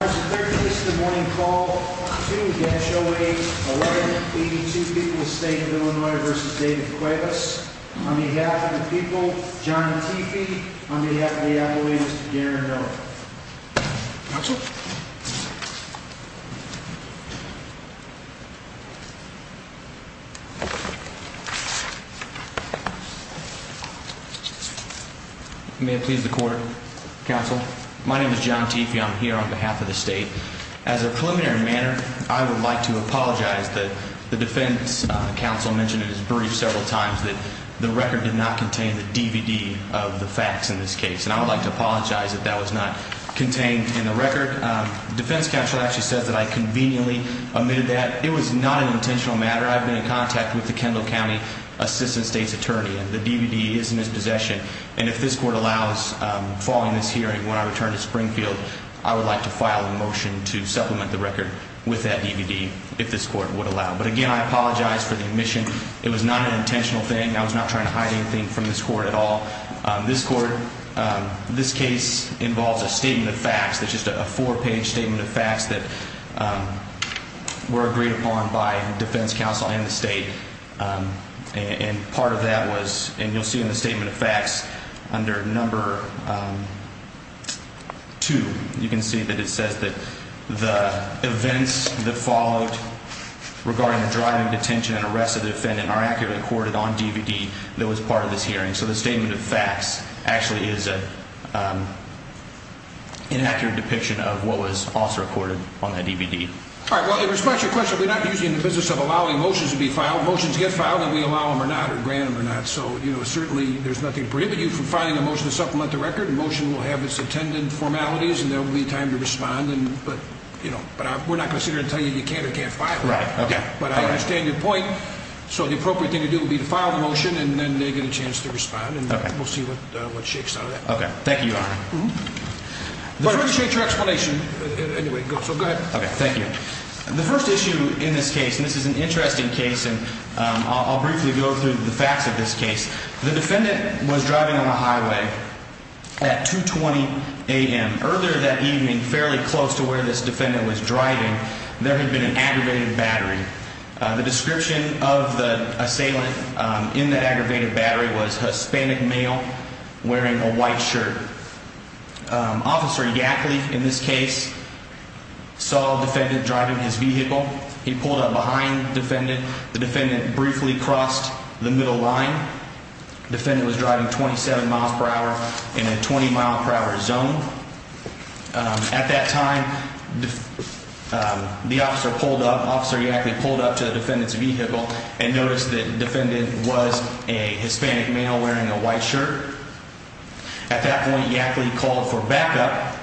There is a third case in the morning call. 2-08-11, 82 People's State of Illinois v. David Cuevas. On behalf of the people, John Teefee. On behalf of the employees, Darren Miller. May it please the court. Counsel. My name is John Teefee. I'm here on behalf of the state. As a preliminary matter, I would like to apologize. The defense counsel mentioned in his brief several times that the record did not contain the DVD of the facts in this case. And I would like to apologize that that was not contained in the record. The defense counsel actually said that I conveniently omitted that. It was not an intentional matter. I've been in contact with the Kendall County Assistant State's Attorney. And the DVD is in his possession. And if this court allows, following this hearing, when I return to Springfield, I would like to file a motion to supplement the record with that DVD. If this court would allow. But again, I apologize for the omission. It was not an intentional thing. I was not trying to hide anything from this court at all. This court, this case involves a statement of facts. It's just a four-page statement of facts that were agreed upon by the defense counsel and the state. And part of that was, and you'll see in the statement of facts, under number two, you can see that it says that the events that followed regarding the driving to detention and arrest of the defendant are accurately recorded on DVD that was part of this hearing. So the statement of facts actually is an inaccurate depiction of what was also recorded on that DVD. All right. Well, in response to your question, we're not usually in the business of allowing motions to be filed. Motions get filed, and we allow them or not or grant them or not. So, you know, certainly there's nothing to prohibit you from filing a motion to supplement the record. A motion will have its intended formalities, and there will be time to respond. But, you know, we're not going to sit here and tell you you can or can't file it. Right. Okay. But I understand your point. So the appropriate thing to do would be to file the motion, and then they get a chance to respond. And we'll see what shakes out of that. Okay. Thank you, Your Honor. But I appreciate your explanation. Anyway, so go ahead. Okay. Thank you. The first issue in this case, and this is an interesting case, and I'll briefly go through the facts of this case. The defendant was driving on the highway at 2.20 a.m. Earlier that evening, fairly close to where this defendant was driving, there had been an aggravated battery. The description of the assailant in the aggravated battery was Hispanic male wearing a white shirt. Officer Yackley, in this case, saw the defendant driving his vehicle. He pulled up behind the defendant. The defendant briefly crossed the middle line. The defendant was driving 27 miles per hour in a 20-mile-per-hour zone. At that time, the officer pulled up, Officer Yackley pulled up to the defendant's vehicle and noticed that the defendant was a Hispanic male wearing a white shirt. At that point, Yackley called for backup.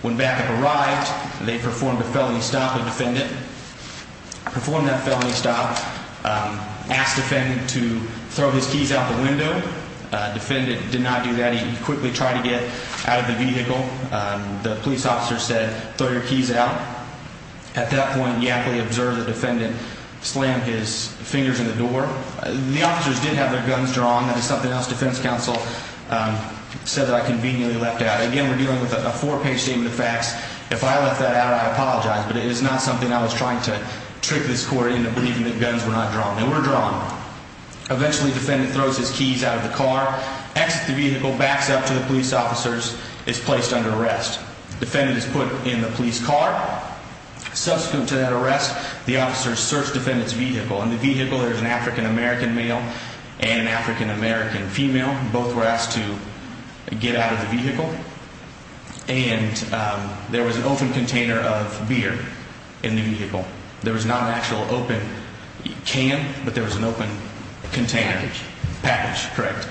When backup arrived, they performed a felony stop. The defendant performed that felony stop, asked the defendant to throw his keys out the window. The defendant did not do that. He quickly tried to get out of the vehicle. The police officer said, throw your keys out. At that point, Yackley observed the defendant slam his fingers in the door. The officers did have their guns drawn. That is something else the defense counsel said that I conveniently left out. Again, we're dealing with a four-page statement of facts. If I left that out, I apologize. But it is not something I was trying to trick this court into believing that guns were not drawn. They were drawn. Eventually, the defendant throws his keys out of the car, exits the vehicle, backs up to the police officers, is placed under arrest. The defendant is put in the police car. Subsequent to that arrest, the officers search the defendant's vehicle. In the vehicle, there's an African-American male and an African-American female. Both were asked to get out of the vehicle. And there was an open container of beer in the vehicle. There was not an actual open can, but there was an open container. Package. Package, correct.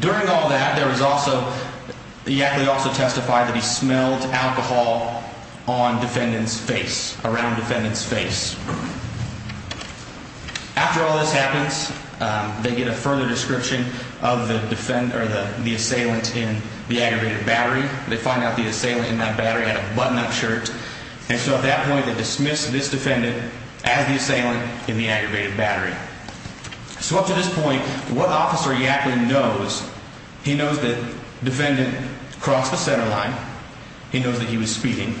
During all that, there was also, he actually also testified that he smelled alcohol on defendant's face, around defendant's face. After all this happens, they get a further description of the assailant in the aggravated battery. They find out the assailant in that battery had a button-up shirt. And so at that point, they dismiss this defendant as the assailant in the aggravated battery. So up to this point, what Officer Yacklin knows, he knows that defendant crossed the center line. He knows that he was speeding.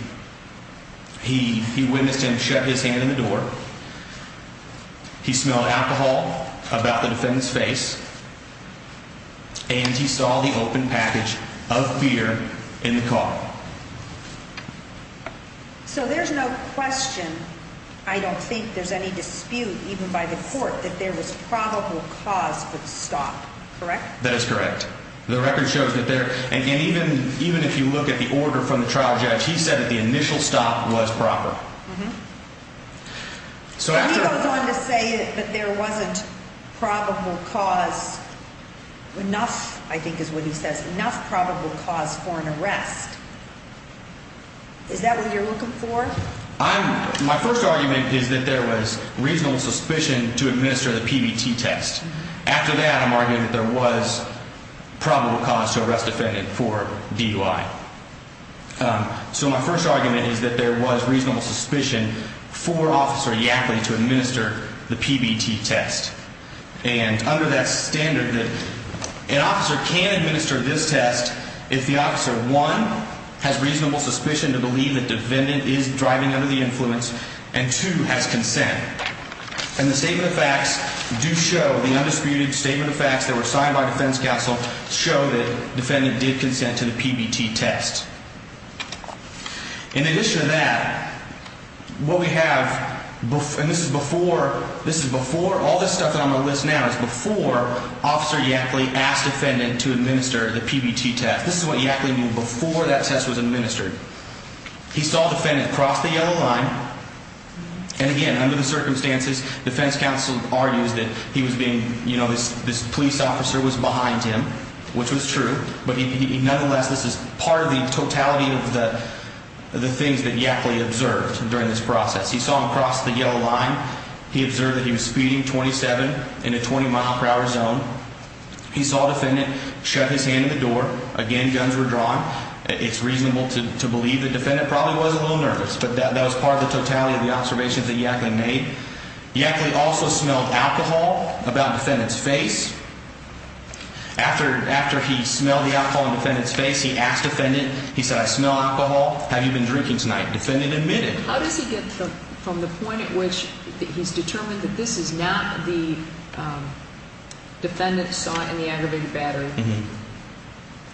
He witnessed him shove his hand in the door. He smelled alcohol about the defendant's face. And he saw the open package of beer in the car. So there's no question, I don't think there's any dispute even by the court, that there was probable cause for the stop, correct? That is correct. The record shows that there, and even if you look at the order from the trial judge, he said that the initial stop was proper. So he goes on to say that there wasn't probable cause enough, I think is what he says, enough probable cause for an arrest. Is that what you're looking for? My first argument is that there was reasonable suspicion to administer the PBT test. After that, I'm arguing that there was probable cause to arrest the defendant for DUI. So my first argument is that there was reasonable suspicion for Officer Yacklin to administer the PBT test. And under that standard, an officer can administer this test if the officer, one, has reasonable suspicion to believe that the defendant is driving under the influence, and two, has consent. And the statement of facts do show, the undisputed statement of facts that were signed by defense counsel, show that the defendant did consent to the PBT test. In addition to that, what we have, and this is before, all this stuff that I'm going to list now is before Officer Yacklin asked the defendant to administer the PBT test. This is what Yacklin knew before that test was administered. He saw the defendant cross the yellow line, and again, under the circumstances, defense counsel argues that he was being, you know, this police officer was behind him, which was true. But nonetheless, this is part of the totality of the things that Yacklin observed during this process. He saw him cross the yellow line. He observed that he was speeding 27 in a 20-mile-per-hour zone. He saw the defendant shove his hand in the door. Again, guns were drawn. It's reasonable to believe the defendant probably was a little nervous, but that was part of the totality of the observations that Yacklin made. Yacklin also smelled alcohol about the defendant's face. After he smelled the alcohol in the defendant's face, he asked the defendant, he said, I smell alcohol, have you been drinking tonight? The defendant admitted. How does he get from the point at which he's determined that this is not the defendant saw it in the aggravated battery? The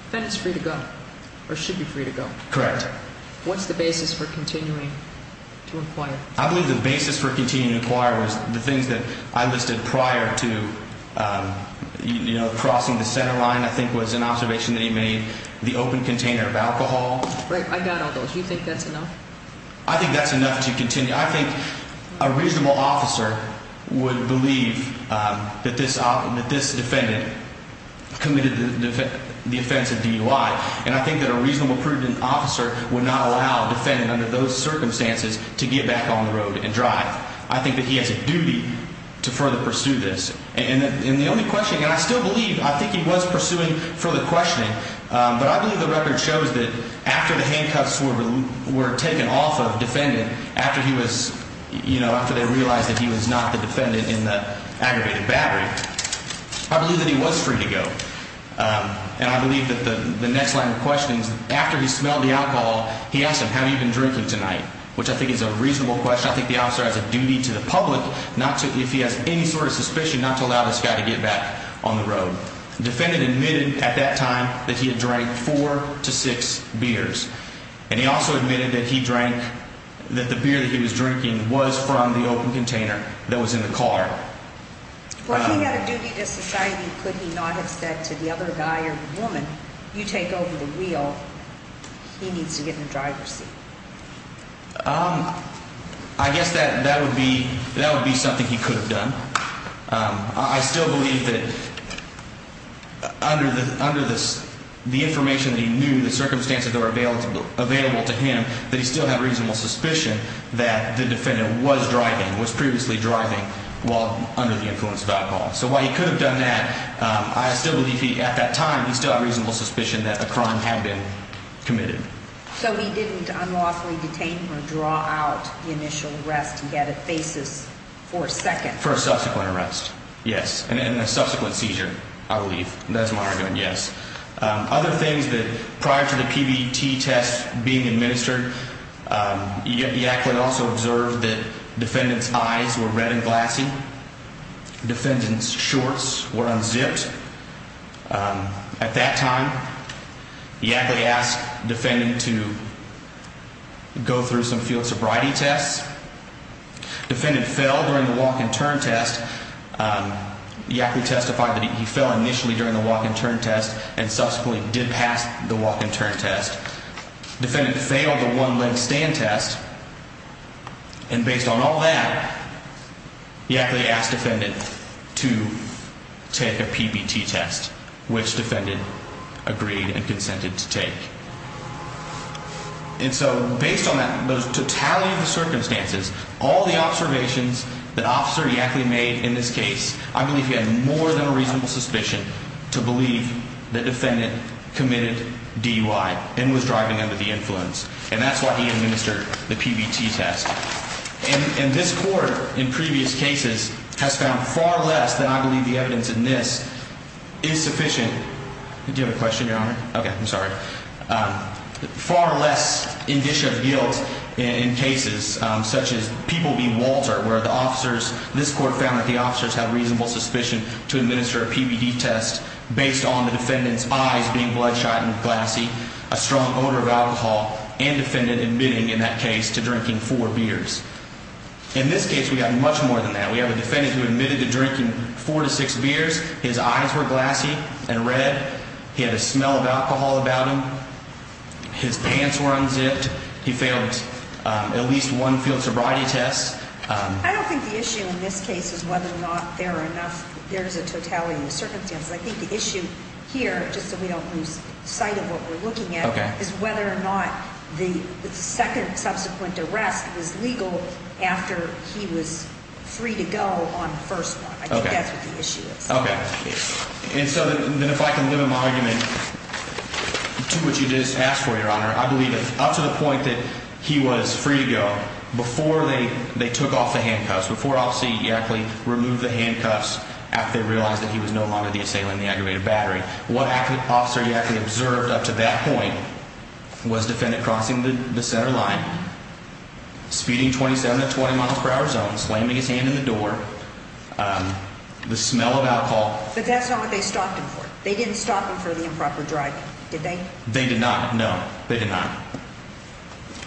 defendant's free to go, or should be free to go. Correct. What's the basis for continuing to inquire? I believe the basis for continuing to inquire was the things that I listed prior to crossing the center line, I think was an observation that he made, the open container of alcohol. I doubt all those. Do you think that's enough? I think that's enough to continue. I think a reasonable officer would believe that this defendant committed the offense at DUI, and I think that a reasonable, prudent officer would not allow a defendant under those circumstances to get back on the road and drive. I think that he has a duty to further pursue this. And the only question, and I still believe, I think he was pursuing further questioning, but I believe the record shows that after the handcuffs were taken off of the defendant, after he was, you know, after they realized that he was not the defendant in the aggravated battery, I believe that he was free to go. And I believe that the next line of questioning is after he smelled the alcohol, he asked him, have you been drinking tonight, which I think is a reasonable question. I think the officer has a duty to the public not to, if he has any sort of suspicion, not to allow this guy to get back on the road. The defendant admitted at that time that he had drank four to six beers, and he also admitted that he drank, that the beer that he was drinking was from the open container that was in the car. Well, he had a duty to society. Could he not have said to the other guy or woman, you take over the wheel. He needs to get in the driver's seat. I guess that that would be that would be something he could have done. I still believe that under the under this, the information that he knew, the circumstances that were available available to him, that he still had reasonable suspicion that the defendant was driving, was previously driving while under the influence of alcohol. So while he could have done that, I still believe he at that time, he still had reasonable suspicion that a crime had been committed. So he didn't unlawfully detain him or draw out the initial arrest. He had a basis for a second, for a subsequent arrest. Yes. And then a subsequent seizure, I believe. That's my argument. Yes. Other things that prior to the PBT test being administered, you also observed that defendants eyes were red and glassy. Defendants shorts were unzipped. At that time, he actually asked defending to go through some field sobriety tests. Defendant fell during the walk and turn test. He actually testified that he fell initially during the walk and turn test and subsequently did pass the walk and turn test. Defendant failed the one leg stand test. And based on all that, he actually asked defendant to take a PBT test, which defendant agreed and consented to take. And so based on that, those totality of the circumstances, all the observations that officer Yackley made in this case, I believe he had more than a reasonable suspicion to believe that defendant committed DUI and was driving under the influence. And that's why he administered the PBT test. And this court, in previous cases, has found far less than I believe the evidence in this is sufficient. Do you have a question, Your Honor? Okay. I'm sorry. Far less indicia of guilt in cases such as People v. Walter, where the officers, this court found that the officers had reasonable suspicion to administer a bloodshot and glassy, a strong odor of alcohol and defendant admitting in that case to drinking four beers. In this case, we have much more than that. We have a defendant who admitted to drinking four to six beers. His eyes were glassy and red. He had a smell of alcohol about him. His pants were unzipped. He failed at least one field sobriety test. I don't think the issue in this case is whether or not there are enough, there's a totality of the circumstances. I think the issue here, just so we don't lose sight of what we're looking at, is whether or not the second subsequent arrest was legal after he was free to go on the first one. I think that's what the issue is. Okay. And so then if I can live in my argument to what you just asked for, Your Honor, I believe that up to the point that he was free to go, before they took off the handcuffs, before Officer Yackley removed the handcuffs, after they realized that he was no longer the assailant in the aggravated battery, what Officer Yackley observed up to that point was the defendant crossing the center line, speeding 27 to 20 miles per hour zone, slamming his hand in the door, the smell of alcohol. But that's not what they stopped him for. They didn't stop him for the improper drive, did they? They did not, no. They did not.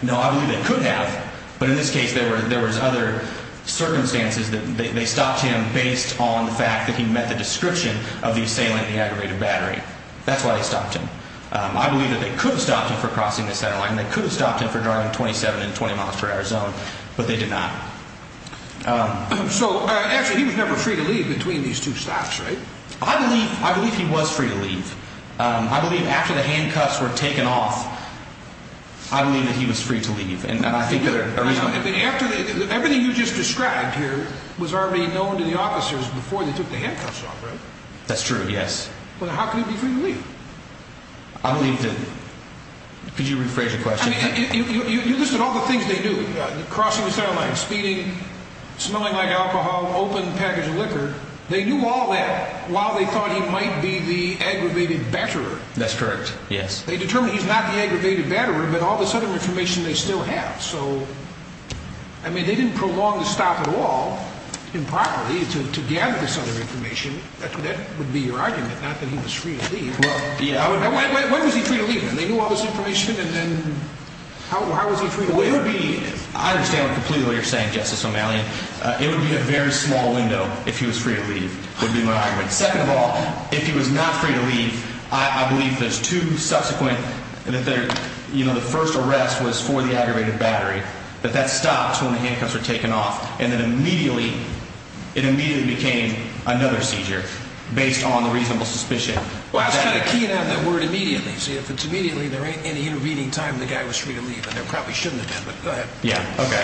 No, I believe they could have. But in this case, there was other circumstances. They stopped him based on the fact that he met the description of the assailant in the aggravated battery. That's why they stopped him. I believe that they could have stopped him for crossing the center line, and they could have stopped him for driving 27 to 20 miles per hour zone, but they did not. So, actually, he was never free to leave between these two stops, right? I believe he was free to leave. I believe after the handcuffs were taken off, I believe that he was free to leave. Everything you just described here was already known to the officers before they took the handcuffs off, right? That's true, yes. But how could he be free to leave? I believe that, could you rephrase your question? You listed all the things they knew, crossing the center line, speeding, smelling like alcohol, open package of liquor. They knew all that while they thought he might be the aggravated batterer. That's correct, yes. They determined he's not the aggravated batterer, but all this other information they still have. So, I mean, they didn't prolong the stop at all, improperly, to gather this other information. That would be your argument, not that he was free to leave. When was he free to leave, then? They knew all this information, and then how was he free to leave? I understand completely what you're saying, Justice O'Malley. It would be a very small window if he was free to leave, would be my argument. Second of all, if he was not free to leave, I believe there's two subsequent, you know, the first arrest was for the aggravated batterer, but that stopped when the handcuffs were taken off. And then immediately, it immediately became another seizure based on the reasonable suspicion. Well, I was kind of keying out that word immediately. See, if it's immediately, there ain't any intervening time the guy was free to leave, and there probably shouldn't have been, but go ahead. Yeah, okay.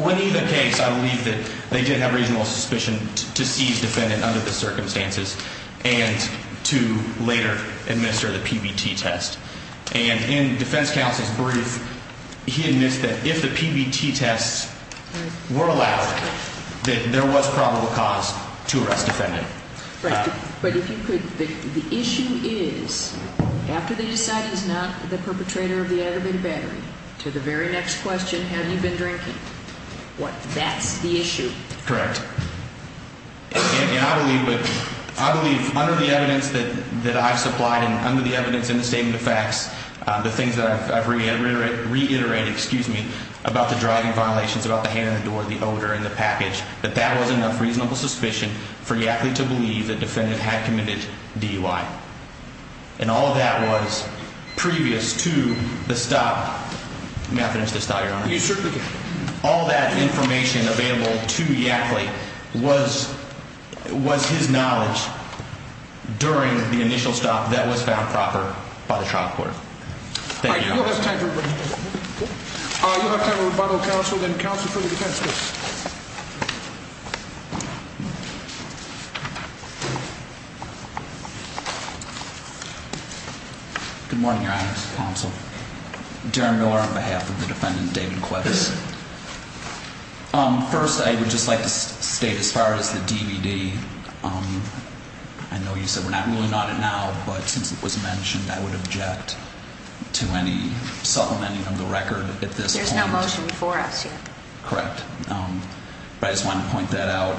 When either case, I believe that they did have reasonable suspicion to seize defendant under the circumstances and to later administer the PBT test. And in defense counsel's brief, he admits that if the PBT tests were allowed, that there was probable cause to arrest defendant. Right. But if you could, the issue is, after they decide he's not the perpetrator of the aggravated battery, to the very next question, have you been drinking? That's the issue. Correct. And I believe under the evidence that I've supplied and under the evidence in the statement of facts, the things that I've reiterated about the driving violations, about the hand in the door, the odor in the package, that that was enough reasonable suspicion for Yackley to believe that defendant had committed DUI. And all of that was previous to the stop. May I finish this thought, Your Honor? You certainly can. All that information available to Yackley was his knowledge during the initial stop that was found proper by the trial court. Thank you. All right, we don't have time for questions. We don't have time for rebuttal. Counsel, then counsel for the defense, please. Good morning, Your Honor. Counsel. Darren Miller on behalf of the defendant, David Kwetz. First, I would just like to state, as far as the DVD, I know you said we're not ruling on it now, but since it was mentioned, I would object to any supplementing of the record at this point. There's no motion before us yet. Correct. But I just wanted to point that out.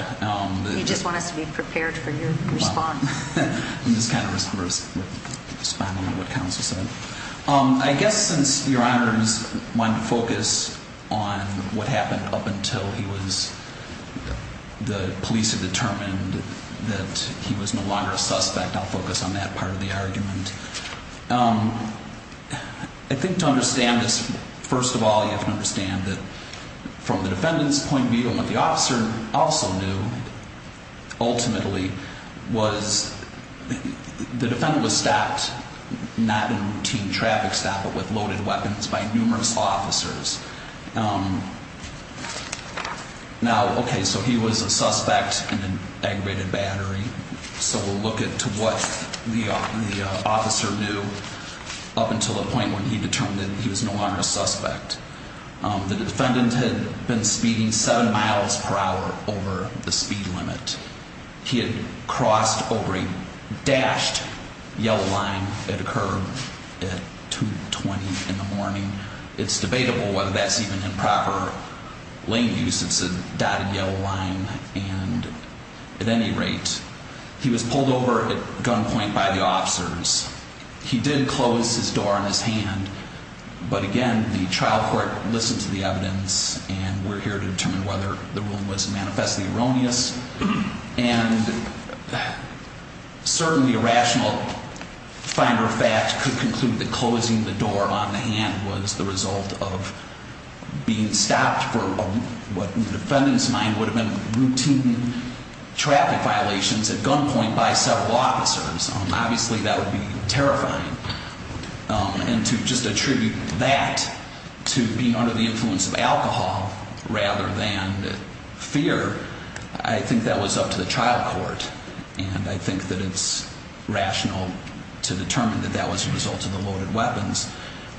You just want us to be prepared for your response. I'm just kind of responding to what counsel said. I guess since Your Honor is wanting to focus on what happened up until he was, the police had determined that he was no longer a suspect, I'll focus on that part of the argument. I think to understand this, first of all, you have to understand that from the defendant's point of view, what the officer also knew ultimately was the defendant was stopped, not in routine traffic stop, but with loaded weapons by numerous law officers. Now, okay, so he was a suspect in an aggravated battery. So we'll look at what the officer knew up until the point when he determined that he was no longer a suspect. The defendant had been speeding seven miles per hour over the speed limit. He had crossed over a dashed yellow line at a curb at 2.20 in the morning. It's debatable whether that's even in proper lane use. It's a dotted yellow line. And at any rate, he was pulled over at gunpoint by the officers. He did close his door on his hand, but again, the trial court listened to the evidence, and we're here to determine whether the ruling was manifestly erroneous. And certainly a rational finder of fact could conclude that closing the door on the hand was the result of being stopped for what, in the defendant's mind, would have been routine traffic violations at gunpoint by several officers. Obviously, that would be terrifying. And to just attribute that to being under the influence of alcohol rather than fear, I think that was up to the trial court. And I think that it's rational to determine that that was the result of the loaded weapons,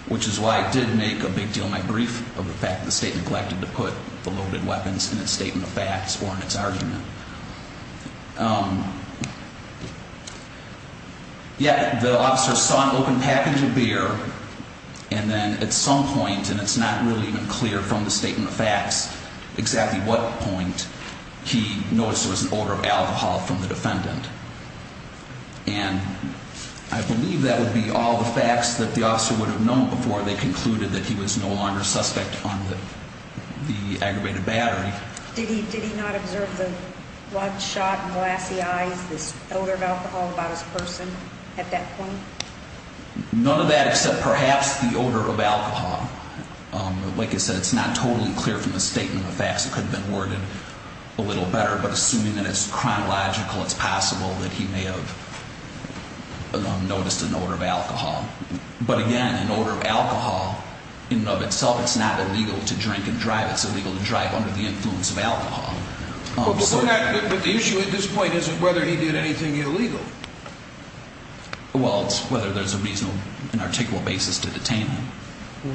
which is why it did make a big deal in my brief of the fact that the state neglected to put the loaded weapons in its statement of facts or in its argument. Yet the officers saw an open package of beer, and then at some point, and it's not really even clear from the statement of facts exactly what point, he noticed there was an odor of alcohol from the defendant. And I believe that would be all the facts that the officer would have known before they concluded that he was no longer suspect on the aggravated battery. Did he not observe the bloodshot, glassy eyes, this odor of alcohol about his person at that point? None of that except perhaps the odor of alcohol. Like I said, it's not totally clear from the statement of facts. It could have been worded a little better, but assuming that it's chronological, it's possible that he may have noticed an odor of alcohol. But again, an odor of alcohol in and of itself, it's not illegal to drink and drive. It's illegal to drive under the influence of alcohol. But the issue at this point isn't whether he did anything illegal. Well, it's whether there's a reasonable and articulable basis to detain him.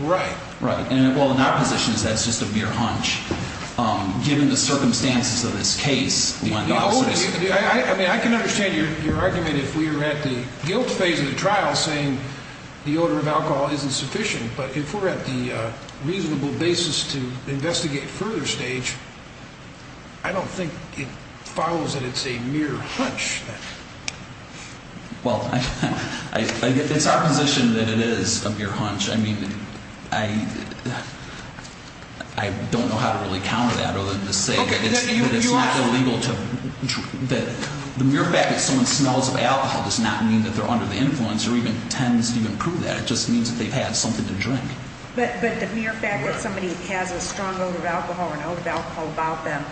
Right. Right. Well, in our position, that's just a mere hunch. Given the circumstances of this case, we want the officers… I mean, I can understand your argument if we were at the guilt phase of the trial saying the odor of alcohol isn't sufficient. But if we're at the reasonable basis to investigate further stage, I don't think it follows that it's a mere hunch. Well, if it's our position that it is a mere hunch, I mean, I don't know how to really counter that other than to say that it's not illegal to… The mere fact that someone smells of alcohol does not mean that they're under the influence or even tends to even prove that. It just means that they've had something to drink. But the mere fact that somebody has a strong odor of alcohol or an odor of alcohol about them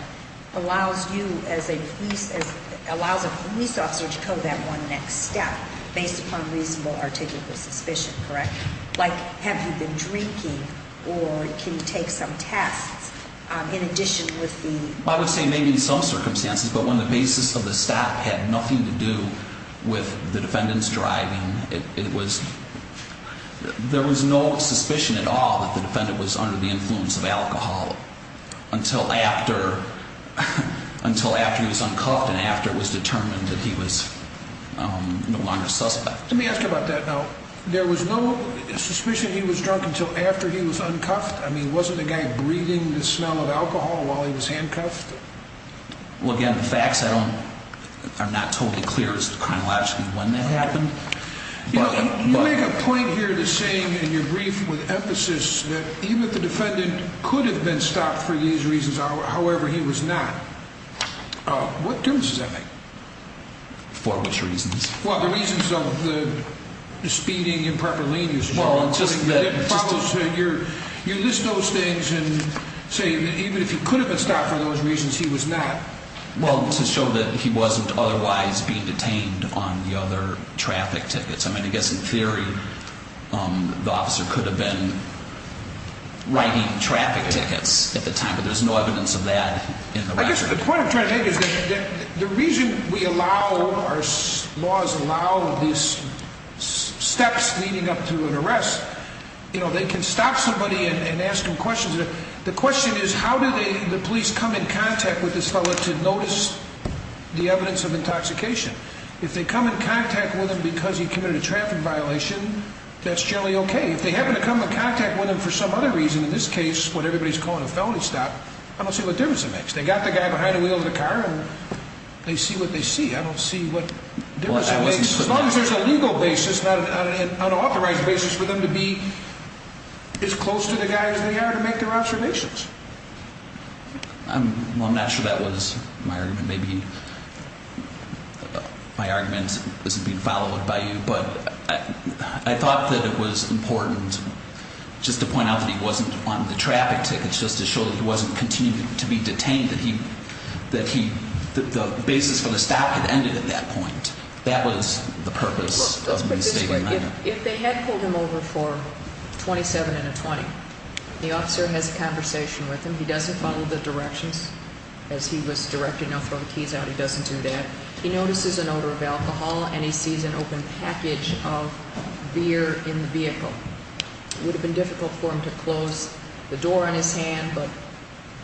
allows you as a police – allows a police officer to go that one next step based upon reasonable articulable suspicion, correct? Like, have you been drinking or can you take some tests in addition with the… Well, I would say maybe in some circumstances, but when the basis of the stop had nothing to do with the defendant's driving, it was – there was no suspicion at all that the defendant was under the influence of alcohol until after – until after he was uncuffed and after it was determined that he was no longer a suspect. Let me ask you about that now. There was no suspicion he was drunk until after he was uncuffed? I mean, wasn't the guy breathing the smell of alcohol while he was handcuffed? Well, again, the facts I don't – are not totally clear as to chronologically when that happened. You make a point here to say in your brief with emphasis that even if the defendant could have been stopped for these reasons, however, he was not. What difference does that make? For which reasons? Well, the reasons of the speeding and proper lane usage. You list those things and say that even if he could have been stopped for those reasons, he was not. Well, to show that he wasn't otherwise being detained on the other traffic tickets. I mean, I guess in theory, the officer could have been writing traffic tickets at the time, but there's no evidence of that in the record. I guess the point I'm trying to make is that the reason we allow, or laws allow, these steps leading up to an arrest, you know, they can stop somebody and ask them questions. The question is how do the police come in contact with this fellow to notice the evidence of intoxication? If they come in contact with him because he committed a traffic violation, that's generally okay. If they happen to come in contact with him for some other reason, in this case, what everybody's calling a felony stop, I don't see what difference it makes. They got the guy behind the wheel of the car and they see what they see. I don't see what difference it makes. As long as there's a legal basis, not an unauthorized basis, for them to be as close to the guy as they are to make their observations. Well, I'm not sure that was my argument. Maybe my argument isn't being followed by you, but I thought that it was important just to point out that he wasn't on the traffic tickets, just to show that he wasn't continuing to be detained, that the basis for the stop had ended at that point. That was the purpose of the statement I made. If they had pulled him over for 27 and a 20, the officer has a conversation with him. He doesn't follow the directions as he was directed. No, throw the keys out. He doesn't do that. He notices an odor of alcohol and he sees an open package of beer in the vehicle. It would have been difficult for him to close the door on his hand, but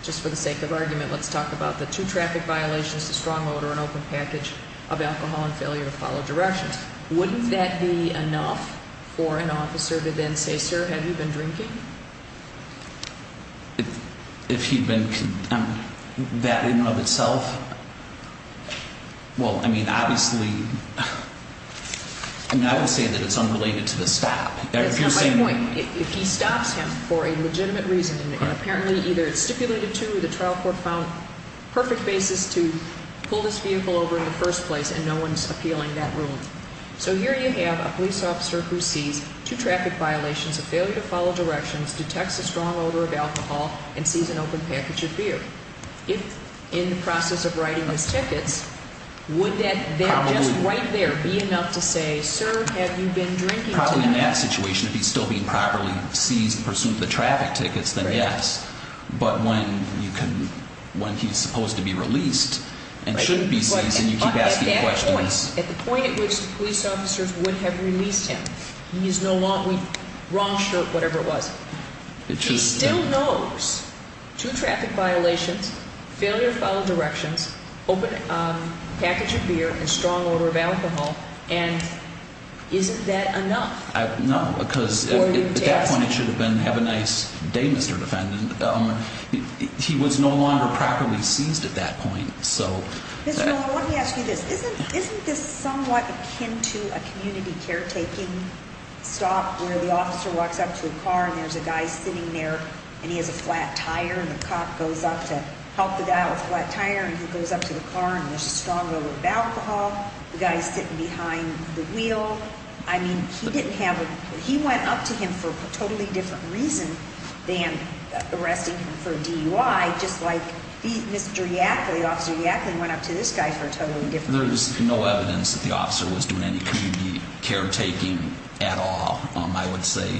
just for the sake of argument, let's talk about the two traffic violations, the strong odor and open package of alcohol and failure to follow directions. Wouldn't that be enough for an officer to then say, sir, have you been drinking? If he'd been condemned, that in and of itself, well, I mean, obviously, I would say that it's unrelated to the stop. My point, if he stops him for a legitimate reason and apparently either it's stipulated to, the trial court found perfect basis to pull this vehicle over in the first place and no one's appealing that ruling. So here you have a police officer who sees two traffic violations, a failure to follow directions, detects a strong odor of alcohol and sees an open package of beer. If in the process of writing his tickets, would that just right there be enough to say, sir, have you been drinking? In that situation, if he's still being properly seized in pursuit of the traffic tickets, then yes. But when he's supposed to be released and shouldn't be seized and you keep asking questions. At that point, at the point at which the police officers would have released him, he's no longer, wrong shirt, whatever it was. He still knows two traffic violations, failure to follow directions, open package of beer and strong odor of alcohol. And isn't that enough? No, because at that point it should have been have a nice day, Mr. Defendant. He was no longer properly seized at that point. Mr. Miller, let me ask you this. Isn't this somewhat akin to a community caretaking stop where the officer walks up to a car and there's a guy sitting there and he has a flat tire and the cop goes up to help the guy with the flat tire and he goes up to the car and there's a strong odor of alcohol. The guy is sitting behind the wheel. I mean, he went up to him for a totally different reason than arresting him for DUI. Just like Mr. Yackley, Officer Yackley, went up to this guy for a totally different reason. There's no evidence that the officer was doing any community caretaking at all, I would say.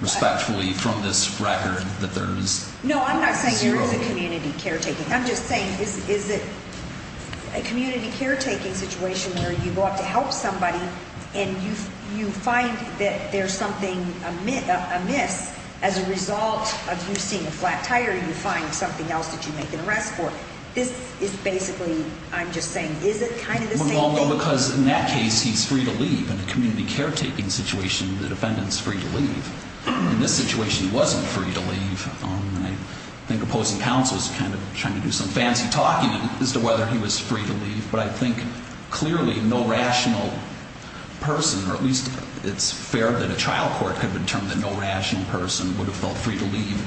Respectfully, from this record, that there is zero. No, I'm not saying there is a community caretaking. I'm just saying is it a community caretaking situation where you go up to help somebody and you find that there's something amiss as a result of you seeing a flat tire and you find something else that you make an arrest for? This is basically, I'm just saying, is it kind of the same thing? Well, no, because in that case he's free to leave. In a community caretaking situation, the defendant's free to leave. In this situation, he wasn't free to leave. I think opposing counsel is kind of trying to do some fancy talking as to whether he was free to leave, but I think clearly no rational person, or at least it's fair that a trial court could have determined that no rational person would have felt free to leave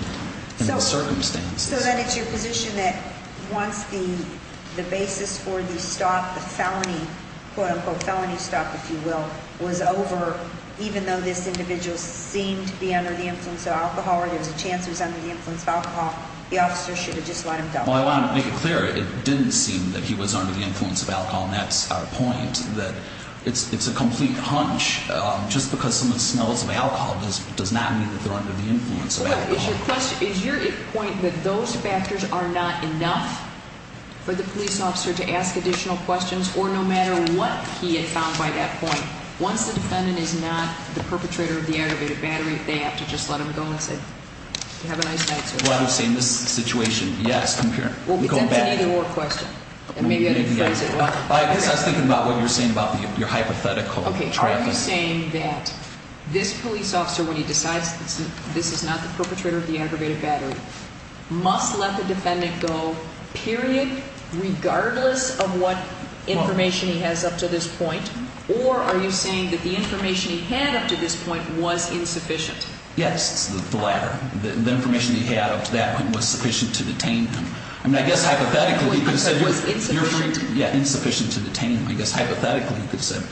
in those circumstances. So then it's your position that once the basis for the stop, the felony, quote-unquote felony stop, if you will, was over, even though this individual seemed to be under the influence of alcohol or there was a chance he was under the influence of alcohol, the officer should have just let him go? Well, I want to make it clear. It didn't seem that he was under the influence of alcohol, and that's our point, that it's a complete hunch. Just because someone smells of alcohol does not mean that they're under the influence of alcohol. Is your point that those factors are not enough for the police officer to ask additional questions, or no matter what he had found by that point, once the defendant is not the perpetrator of the aggravated battery, they have to just let him go and say, you have a nice night, sir. Well, I'm saying this situation, yes, I'm here. Well, that's an either-or question, and maybe I didn't phrase it well. I guess I was thinking about what you were saying about your hypothetical traffic. Okay, are you saying that this police officer, when he decides this is not the perpetrator of the aggravated battery, must let the defendant go, period, regardless of what information he has up to this point, or are you saying that the information he had up to this point was insufficient? Yes, the latter. The information he had up to that point was sufficient to detain him. I mean, I guess hypothetically he could have said you're free to go. Yeah, insufficient to detain him. I guess hypothetically he could have said,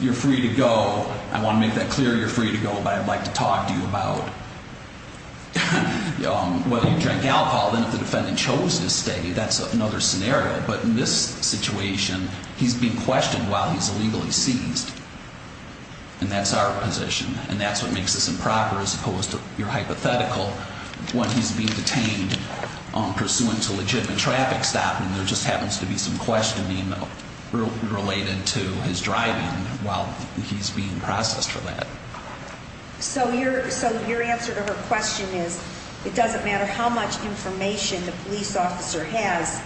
you're free to go. I want to make that clear, you're free to go, but I'd like to talk to you about, well, you drank alcohol, then if the defendant chose to stay, that's another scenario. But in this situation, he's being questioned while he's illegally seized, and that's our position, and that's what makes this improper as opposed to your hypothetical, when he's being detained pursuant to legitimate traffic stopping, and there just happens to be some questioning related to his driving while he's being processed for that. So your answer to her question is it doesn't matter how much information the police officer has,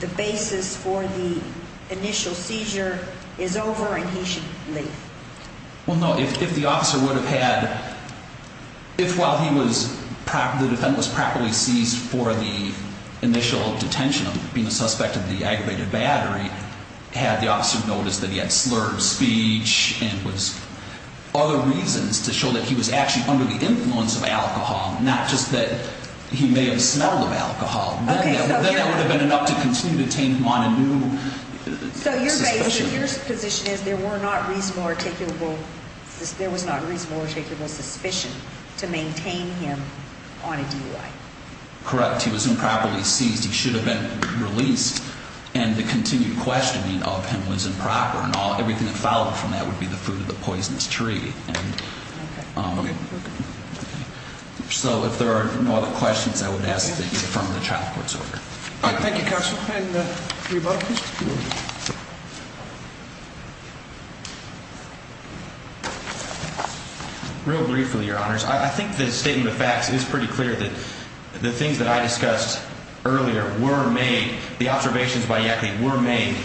the basis for the initial seizure is over and he should leave. Well, no, if the officer would have had – if while he was – the defendant was properly seized for the initial detention of being a suspect of the aggravated battery, had the officer noticed that he had slurred speech and was – other reasons to show that he was actually under the influence of alcohol, not just that he may have smelled of alcohol, then that would have been enough to continue to detain him on a new suspicion. So your position is there were not reasonable articulable – there was not reasonable articulable suspicion to maintain him on a DUI. Correct. He was improperly seized. He should have been released. And the continued questioning of him was improper, and everything that followed from that would be the fruit of the poisonous tree. Okay. So if there are no other questions, I would ask that you affirm the child court's order. All right. Thank you, Counsel. And your butler, please. Real briefly, Your Honors, I think the statement of facts is pretty clear that the things that I discussed earlier were made – the observations by Yackley were made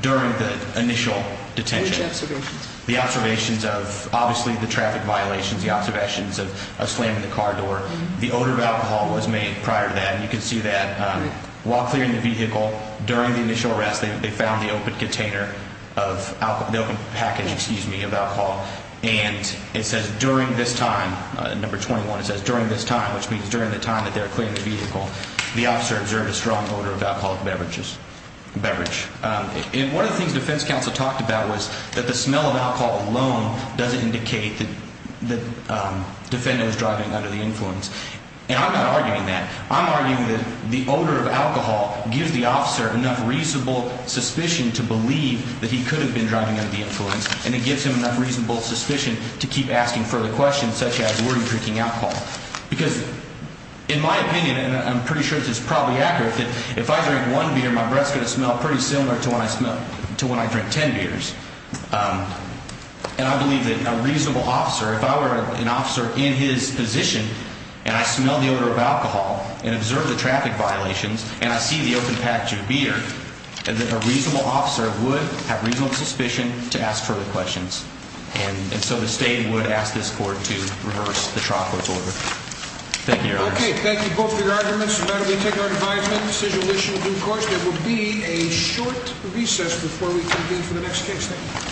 during the initial detention. Which observations? The observations of, obviously, the traffic violations, the observations of slamming the car door. The odor of alcohol was made prior to that, and you can see that. While clearing the vehicle, during the initial arrest, they found the open container of – the open package, excuse me, of alcohol. And it says, during this time – number 21 – it says, during this time, which means during the time that they were clearing the vehicle, the officer observed a strong odor of alcoholic beverages – beverage. And one of the things defense counsel talked about was that the smell of alcohol alone doesn't indicate that the defendant was driving under the influence. And I'm not arguing that. I'm arguing that the odor of alcohol gives the officer enough reasonable suspicion to believe that he could have been driving under the influence, and it gives him enough reasonable suspicion to keep asking further questions such as, were you drinking alcohol? Because in my opinion, and I'm pretty sure this is probably accurate, that if I drink one beer, my breath's going to smell pretty similar to when I drink ten beers. And I believe that a reasonable officer – if I were an officer in his position and I smell the odor of alcohol and observe the traffic violations and I see the open package of beer, a reasonable officer would have reasonable suspicion to ask further questions. And so the state would ask this court to reverse the trial court's order. Thank you, Your Honor. Okay, thank you both for your arguments. Madam, we take our advisement. Decision will be issued in due course. There will be a short recess before we convene for the next case. Thank you.